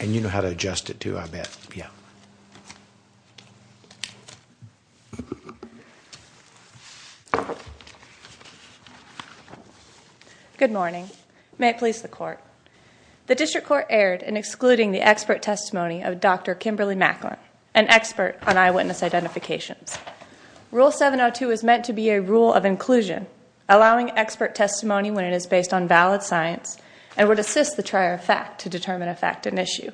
And you know how to adjust it to I bet yeah Good morning, may it please the court The district court erred in excluding the expert testimony of dr. Kimberly Macklin an expert on eyewitness identifications Rule 702 is meant to be a rule of inclusion Allowing expert testimony when it is based on valid science and would assist the trier of fact to determine a fact an issue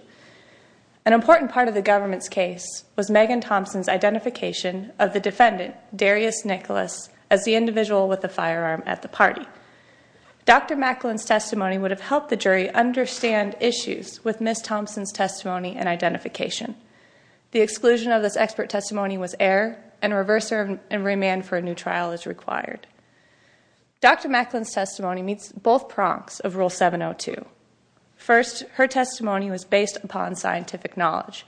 an important part of the government's case was Megan Thompson's Identification of the defendant Darius Nicholas as the individual with the firearm at the party Dr. Macklin's testimony would have helped the jury understand issues with Miss Thompson's testimony and identification The exclusion of this expert testimony was air and reverser and remand for a new trial is required Dr. Macklin's testimony meets both prongs of rule 702 First her testimony was based upon scientific knowledge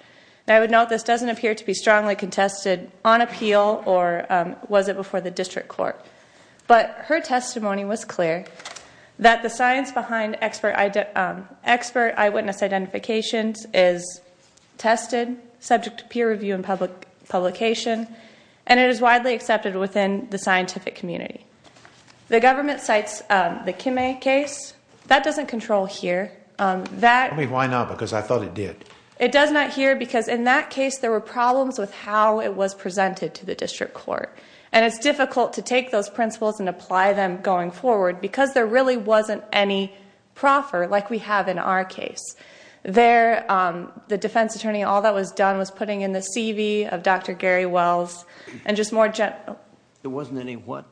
I would note this doesn't appear to be strongly contested on appeal or was it before the district court? but her testimony was clear that the science behind expert I did expert eyewitness identifications is Tested subject to peer review and public publication and it is widely accepted within the scientific community The government cites the Kim a case that doesn't control here that we why not because I thought it did It does not here because in that case there were problems with how it was presented to the district court And it's difficult to take those principles and apply them going forward because there really wasn't any Proffer like we have in our case There the defense attorney all that was done was putting in the CV of dr. Gary Wells and just more gentle There wasn't any what?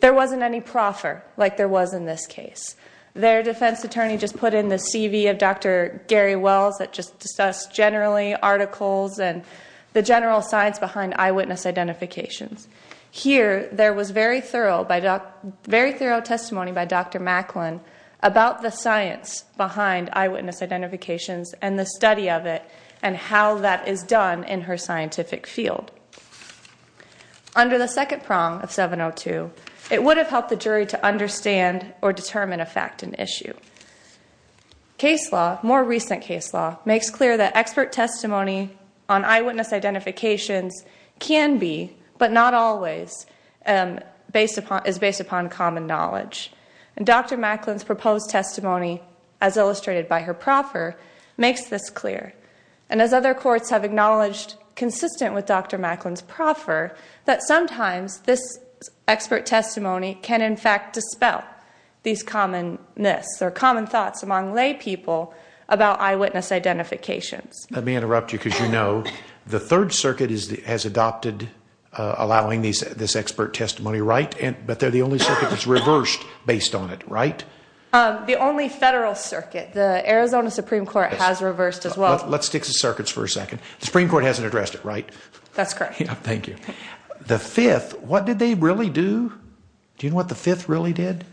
There wasn't any proffer like there was in this case their defense attorney just put in the CV of dr Gary Wells that just discussed generally articles and the general science behind eyewitness identifications Here there was very thorough by doc. Very thorough testimony by dr Macklin about the science behind eyewitness identifications and the study of it and how that is done in her scientific field Under the second prong of 702 it would have helped the jury to understand or determine a fact an issue Case law more recent case law makes clear that expert testimony on eyewitness identifications Can be but not always Based upon is based upon common knowledge and dr. Macklin's proposed testimony as illustrated by her proffer Makes this clear and as other courts have acknowledged consistent with dr Macklin's proffer that sometimes this Expert testimony can in fact dispel these common myths or common thoughts among laypeople About eyewitness identifications. Let me interrupt you because you know, the Third Circuit is the has adopted Allowing these this expert testimony right and but they're the only circuit that's reversed based on it, right? The only federal circuit the Arizona Supreme Court has reversed as well Let's stick the circuits for a second. The Supreme Court hasn't addressed it, right? That's correct. Thank you the fifth What did they really do? Do you know what the fifth really did?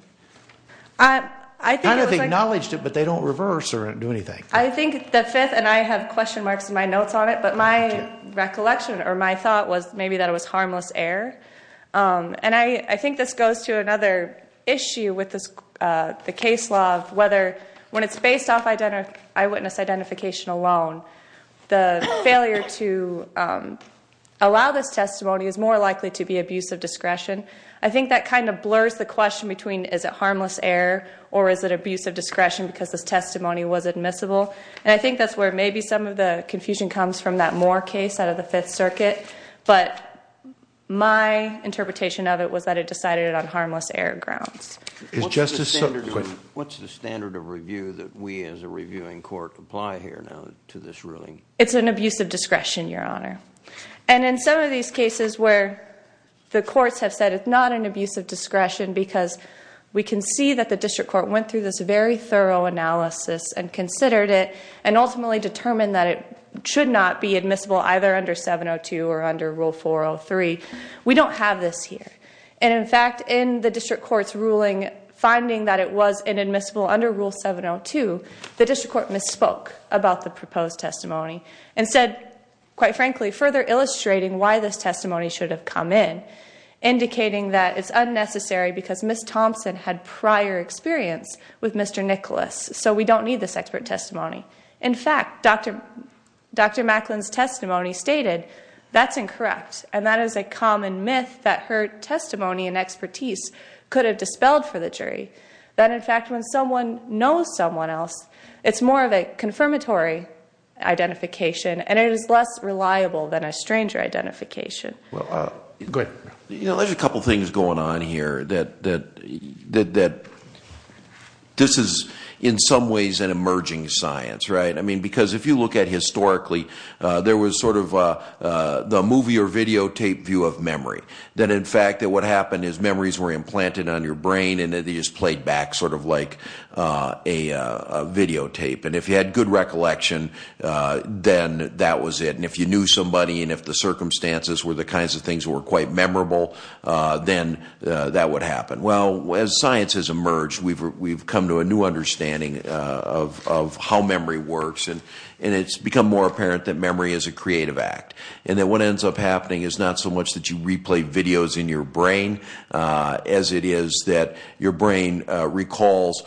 I? I think I've acknowledged it, but they don't reverse or do anything I think the fifth and I have question marks in my notes on it, but my Recollection or my thought was maybe that it was harmless air And I I think this goes to another issue with this the case law of whether when it's based off identity eyewitness identification alone the failure to Allow this testimony is more likely to be abusive discretion I think that kind of blurs the question between is it harmless air or is it abusive discretion because this testimony was admissible and I think that's where maybe some of the confusion comes from that more case out of the Fifth Circuit, but My interpretation of it was that it decided it on harmless air grounds Justice What's the standard of review that we as a reviewing court apply here now to this ruling? It's an abusive discretion your honor and in some of these cases where? The courts have said it's not an abusive discretion because we can see that the district court went through this very thorough Analysis and considered it and ultimately determined that it should not be admissible either under 702 or under rule 403 We don't have this here And in fact in the district courts ruling finding that it was inadmissible under rule 702 The district court misspoke about the proposed testimony and said quite frankly further illustrating why this testimony should have come in Indicating that it's unnecessary because miss Thompson had prior experience with mr. Nicholas. So we don't need this expert testimony. In fact, dr Dr. Macklin's testimony stated that's incorrect And that is a common myth that her testimony and expertise could have dispelled for the jury That in fact when someone knows someone else it's more of a confirmatory Identification and it is less reliable than a stranger identification well, you know, there's a couple things going on here that that that This is in some ways an emerging science, right? I mean because if you look at historically there was sort of the movie or videotape view of memory then in fact that what happened is memories were implanted on your brain and it is played back sort of like a videotape and if you had good recollection Then that was it and if you knew somebody and if the circumstances were the kinds of things were quite memorable Then that would happen well as science has emerged we've come to a new understanding of How memory works and and it's become more apparent that memory is a creative act and that what ends up happening is not so much That you replay videos in your brain As it is that your brain recalls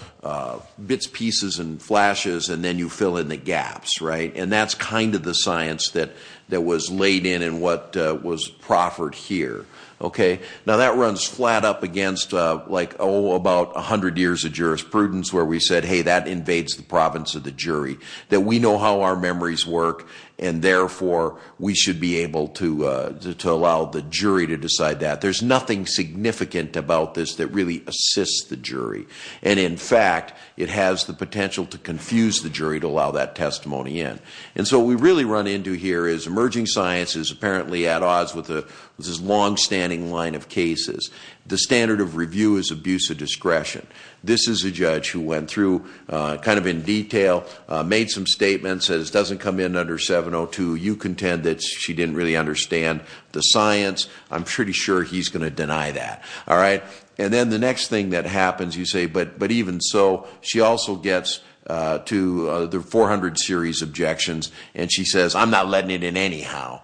bits pieces and flashes and then you fill in the gaps, right and that's kind of the science that That was laid in and what was proffered here Okay, now that runs flat up against like Oh about a hundred years of jurisprudence where we said Hey that invades the province of the jury that we know how our memories work And therefore we should be able to to allow the jury to decide that there's nothing Significant about this that really assists the jury and in fact It has the potential to confuse the jury to allow that testimony in and so we really run into here is emerging Sciences apparently at odds with the this is long-standing line of cases the standard of review is abuse of discretion This is a judge who went through Kind of in detail made some statements as doesn't come in under 702 you contend that she didn't really understand the science I'm pretty sure he's gonna deny that all right, and then the next thing that happens you say but but even so she also gets To the 400 series objections, and she says I'm not letting it in anyhow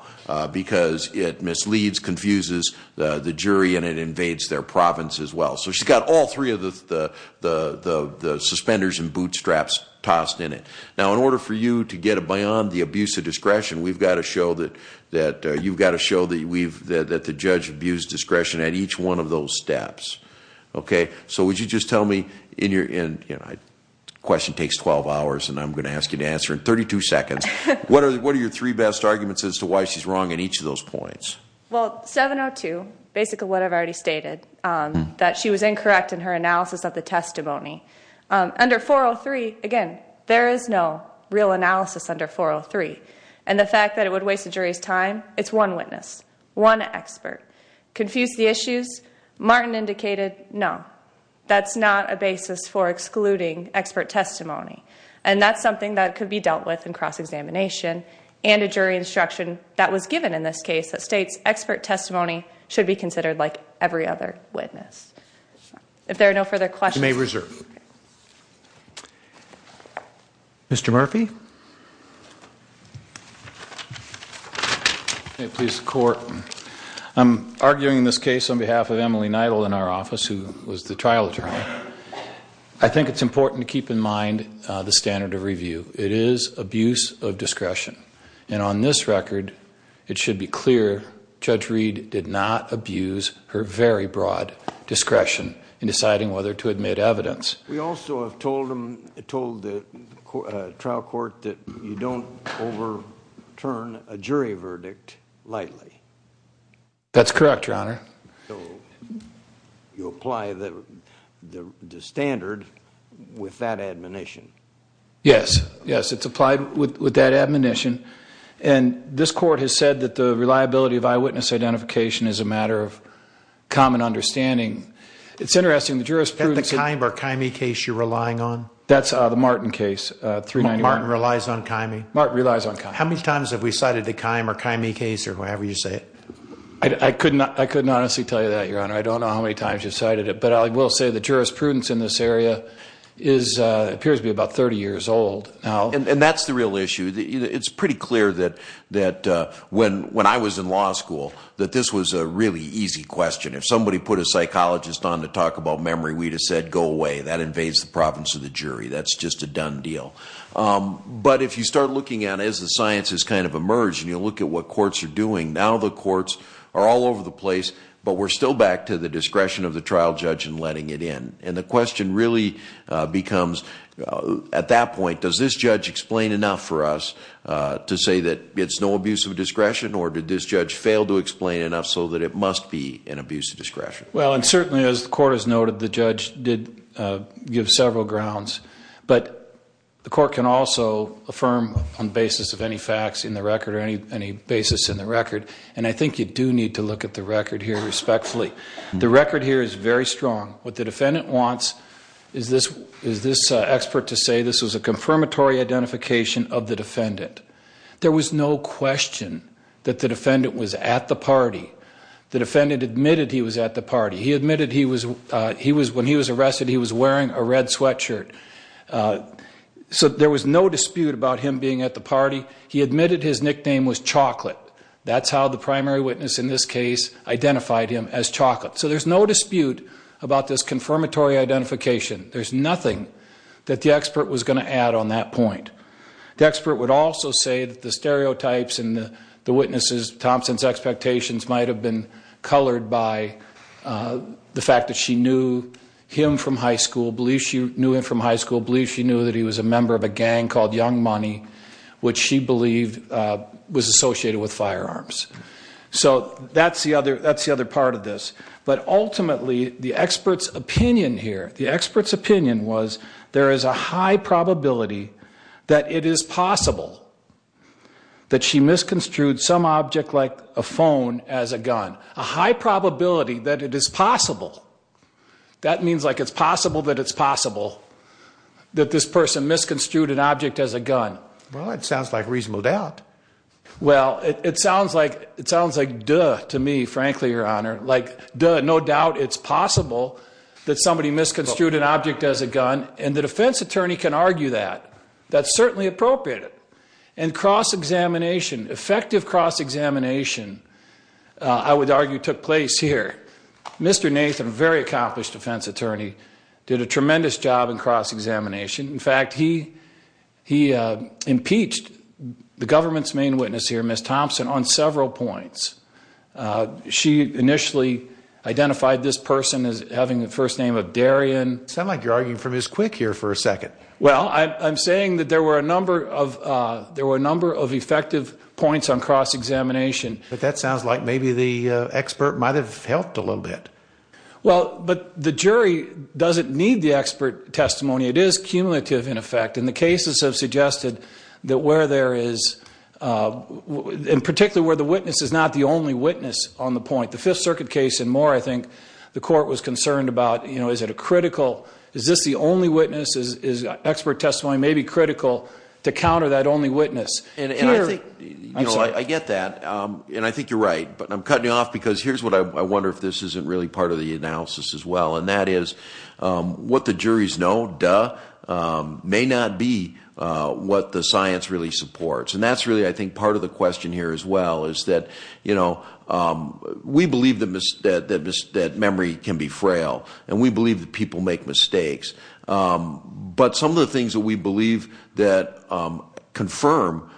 Because it misleads confuses the jury and it invades their province as well, so she's got all three of the Suspenders and bootstraps tossed in it now in order for you to get a buy-on the abuse of discretion We've got to show that that you've got to show that we've that the judge abused discretion at each one of those steps Okay, so would you just tell me in your in you know I? Question takes 12 hours, and I'm gonna ask you to answer in 32 seconds What are what are your three best arguments as to why she's wrong in each of those points well 702? Basically what I've already stated that she was incorrect in her analysis of the testimony Under 403 again. There is no real analysis under 403 and the fact that it would waste the jury's time Martin indicated no, that's not a basis for excluding expert testimony And that's something that could be dealt with in cross-examination and a jury instruction that was given in this case that states expert testimony Should be considered like every other witness If there are no further questions may reserve Mr.. Murphy I Please court I'm arguing this case on behalf of Emily nightle in our office. Who was the trial attorney I? Think it's important to keep in mind the standard of review It is abuse of discretion and on this record it should be clear judge Reed did not abuse her very broad Discretion in deciding whether to admit evidence we also have told them told the Trial court that you don't overturn a jury verdict lightly That's correct your honor You apply the standard with that admonition yes, yes, it's applied with that admonition and This court has said that the reliability of eyewitness identification is a matter of Martin relies on kimee mark relies on how many times have we cited the time or kimee case or whatever you say I? Couldn't I couldn't honestly tell you that your honor. I don't know how many times you cited it But I will say the jurisprudence in this area is Appears to be about 30 years old now, and that's the real issue It's pretty clear that that when when I was in law school That this was a really easy question if somebody put a psychologist on to talk about memory We'd have said go away that invades the province of the jury. That's just a done deal But if you start looking at as the science has kind of emerged And you'll look at what courts are doing now the courts are all over the place But we're still back to the discretion of the trial judge and letting it in and the question really becomes At that point does this judge explain enough for us? To say that it's no abuse of discretion or did this judge fail to explain enough so that it must be an abuse of discretion well and certainly as the court has noted the judge did give several grounds, but the court can also Affirm on basis of any facts in the record or any any basis in the record And I think you do need to look at the record here respectfully the record here is very strong what the defendant wants Is this is this expert to say this was a confirmatory identification of the defendant there was no? Question that the defendant was at the party the defendant admitted. He was at the party he admitted He was he was when he was arrested. He was wearing a red sweatshirt So there was no dispute about him being at the party he admitted his nickname was chocolate That's how the primary witness in this case identified him as chocolate, so there's no dispute about this confirmatory identification There's nothing that the expert was going to add on that point The expert would also say that the stereotypes and the witnesses Thompson's expectations might have been colored by The fact that she knew him from high school believes She knew him from high school believes. She knew that he was a member of a gang called young money, which she believed Was associated with firearms, so that's the other that's the other part of this But ultimately the experts opinion here the experts opinion was there is a high probability That it is possible That she misconstrued some object like a phone as a gun a high probability that it is possible That means like it's possible that it's possible That this person misconstrued an object as a gun well. It sounds like reasonable doubt Well, it sounds like it sounds like duh to me frankly your honor like duh no doubt It's possible that somebody misconstrued an object as a gun and the defense attorney can argue that That's certainly appropriate and cross-examination effective cross-examination I would argue took place here. Mr. Nathan very accomplished defense attorney did a tremendous job in cross-examination in fact he He impeached the government's main witness here miss Thompson on several points She initially Identified this person as having the first name of Darian sound like you're arguing from his quick here for a second Well, I'm saying that there were a number of there were a number of effective points on cross-examination But that sounds like maybe the expert might have helped a little bit Well, but the jury doesn't need the expert testimony It is cumulative in effect and the cases have suggested that where there is In particular where the witness is not the only witness on the point the Fifth Circuit case and more I think the court was concerned about you know, is it a critical is this the only witnesses is expert testimony? Maybe critical to counter that only witness and I think I get that and I think you're right But I'm cutting you off because here's what I wonder if this isn't really part of the analysis as well. And that is What the juries know duh? May not be What the science really supports and that's really I think part of the question here as well is that you know We believe them is that that this that memory can be frail and we believe that people make mistakes but some of the things that we believe that confirm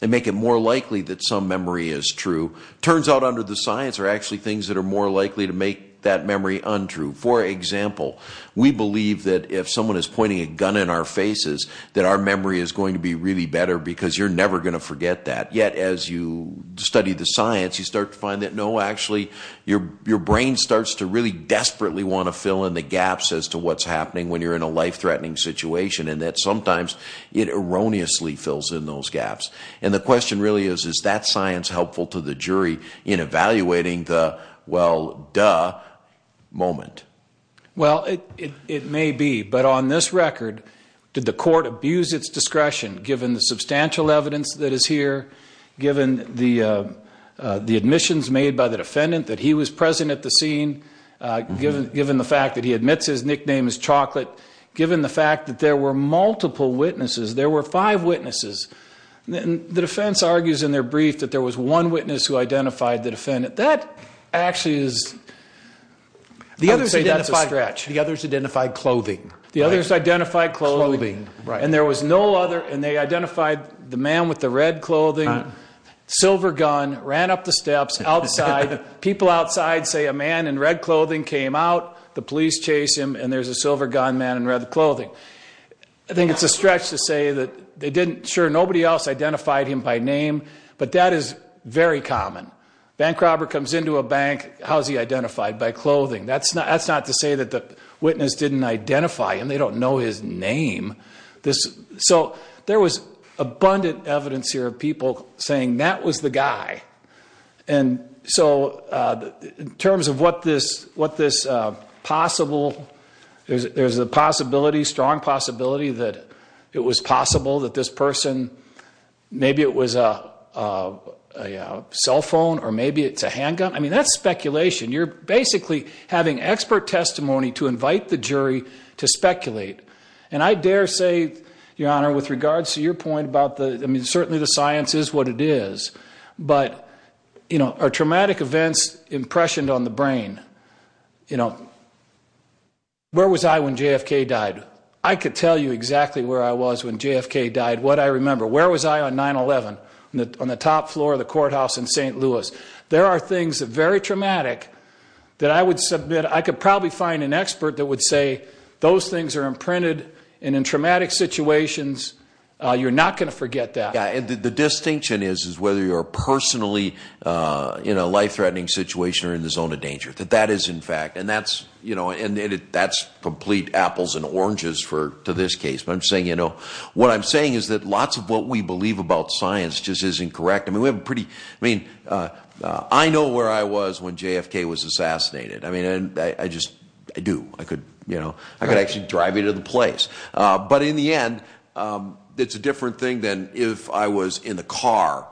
They make it more likely that some memory is true Turns out under the science are actually things that are more likely to make that memory untrue for example We believe that if someone is pointing a gun in our faces That our memory is going to be really better because you're never gonna forget that yet as you study the science You start to find that no Actually, your your brain starts to really desperately want to fill in the gaps as to what's happening when you're in a life-threatening situation And that sometimes it erroneously fills in those gaps and the question really is is that science helpful to the jury in? evaluating the well, duh moment well, it may be but on this record did the court abuse its discretion given the substantial evidence that is here given the The admissions made by the defendant that he was present at the scene Given given the fact that he admits his nickname is chocolate given the fact that there were multiple witnesses. There were five witnesses the defense argues in their brief that there was one witness who identified the defendant that actually is The others identified the others identified clothing the others identified clothing, right? And there was no other and they identified the man with the red clothing Silver gun ran up the steps outside People outside say a man in red clothing came out the police chase him and there's a silver gun man and read the clothing I think it's a stretch to say that they didn't sure nobody else identified him by name But that is very common bank robber comes into a bank. How's he identified by clothing? That's not that's not to say that the witness didn't identify him. They don't know his name This so there was abundant evidence here of people saying that was the guy and so in terms of what this what this Possible is there's a possibility strong possibility that it was possible that this person maybe it was a Cellphone or maybe it's a handgun. I mean that's speculation You're basically having expert testimony to invite the jury to speculate and I dare say Your honor with regards to your point about the I mean, certainly the science is what it is But you know our traumatic events impressioned on the brain You know Where was I when JFK died? I could tell you exactly where I was when JFK died what I remember Where was I on 9-eleven on the top floor of the courthouse in st. Louis? There are things that very traumatic that I would submit I could probably find an expert that would say those things are imprinted and in traumatic situations You're not going to forget that and the distinction is is whether you're personally You know life-threatening situation or in the zone of danger that that is in fact and that's you know And that's complete apples and oranges for to this case But I'm saying you know what I'm saying is that lots of what we believe about science just isn't correct I mean, we have a pretty I mean I know where I was when JFK was assassinated I mean, I just I do I could you know, I could actually drive you to the place but in the end It's a different thing than if I was in the car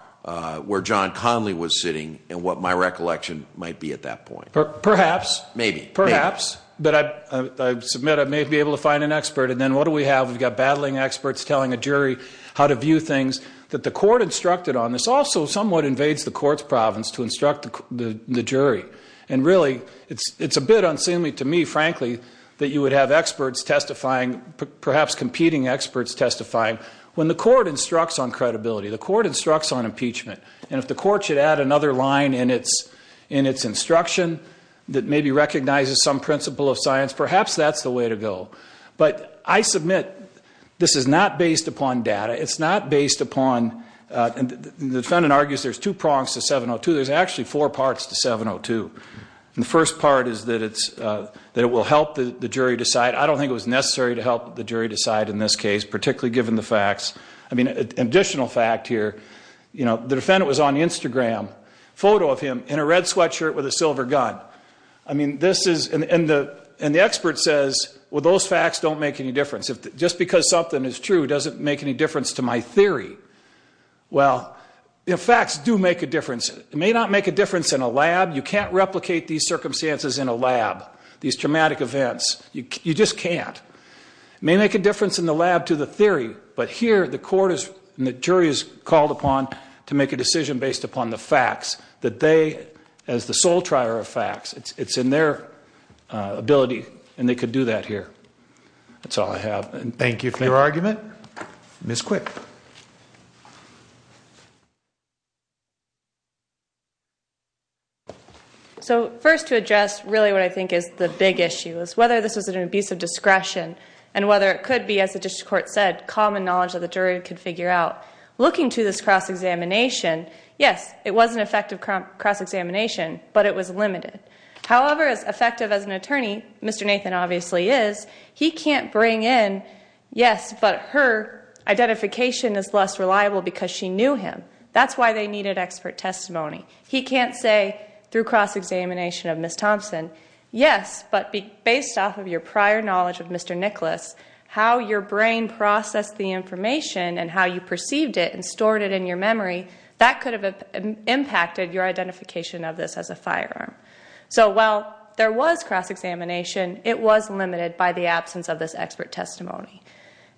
Where John Connally was sitting and what my recollection might be at that point perhaps maybe perhaps But I submit I may be able to find an expert and then what do we have? We've got battling experts telling a jury how to view things that the court instructed on this also somewhat invades the courts province to instruct The jury and really it's it's a bit unseemly to me frankly that you would have experts testifying Perhaps competing experts testifying when the court instructs on credibility the court instructs on impeachment And if the court should add another line in its in its instruction that maybe recognizes some principle of science Perhaps that's the way to go But I submit this is not based upon data, it's not based upon And the defendant argues there's two prongs to 702 There's actually four parts to 702 and the first part is that it's that it will help the jury decide I don't think it was necessary to help the jury decide in this case, particularly given the facts I mean an additional fact here, you know, the defendant was on the Instagram photo of him in a red sweatshirt with a silver gun I mean this is in the and the expert says well those facts don't make any difference if just because something is true doesn't make any difference to my theory Well, you know facts do make a difference. It may not make a difference in a lab You can't replicate these circumstances in a lab these traumatic events. You just can't May make a difference in the lab to the theory But here the court is and the jury is called upon to make a decision based upon the facts that they as the sole trier of facts it's it's in their Ability and they could do that here That's all I have and thank you for your argument miss quick So first to address really what I think is the big issue is whether this is an abuse of discretion and Whether it could be as the district court said common knowledge that the jury could figure out looking to this cross-examination Yes, it was an effective cross-examination, but it was limited however as effective as an attorney. Mr. Nathan obviously is he can't bring in yes, but her Identification is less reliable because she knew him. That's why they needed expert testimony He can't say through cross-examination of miss Thompson. Yes, but be based off of your prior knowledge of mr Nicholas how your brain processed the information and how you perceived it and stored it in your memory that could have Impacted your identification of this as a firearm So while there was cross-examination, it was limited by the absence of this expert testimony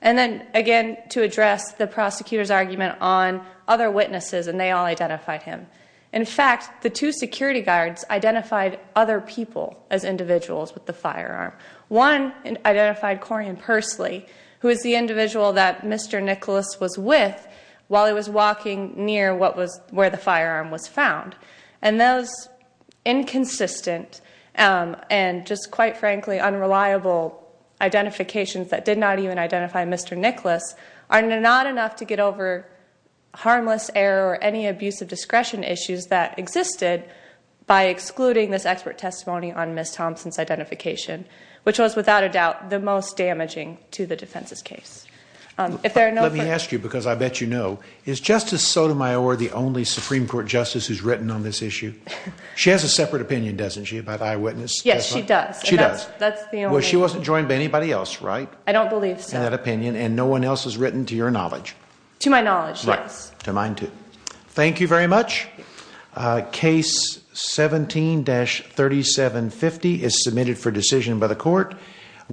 And then again to address the prosecutors argument on other witnesses and they all identified him In fact, the two security guards identified other people as individuals with the firearm one Identified Corian Pursley who is the individual that mr Nicholas was with while he was walking near what was where the firearm was found and those inconsistent and just quite frankly unreliable Identifications that did not even identify. Mr. Nicholas are not enough to get over Harmless error or any abuse of discretion issues that existed by excluding this expert testimony on miss Thompson's identification Which was without a doubt the most damaging to the defense's case If there are no, let me ask you because I bet you know is justice Sotomayor the only Supreme Court justice who's written on this issue. She has a separate opinion doesn't she about eyewitness? Yes, she does She does that's well, she wasn't joined by anybody else, right? I don't believe in that opinion and no one else has written to your knowledge to my knowledge. Yes to mine, too Thank you very much case 17-37 50 is submitted for decision by the court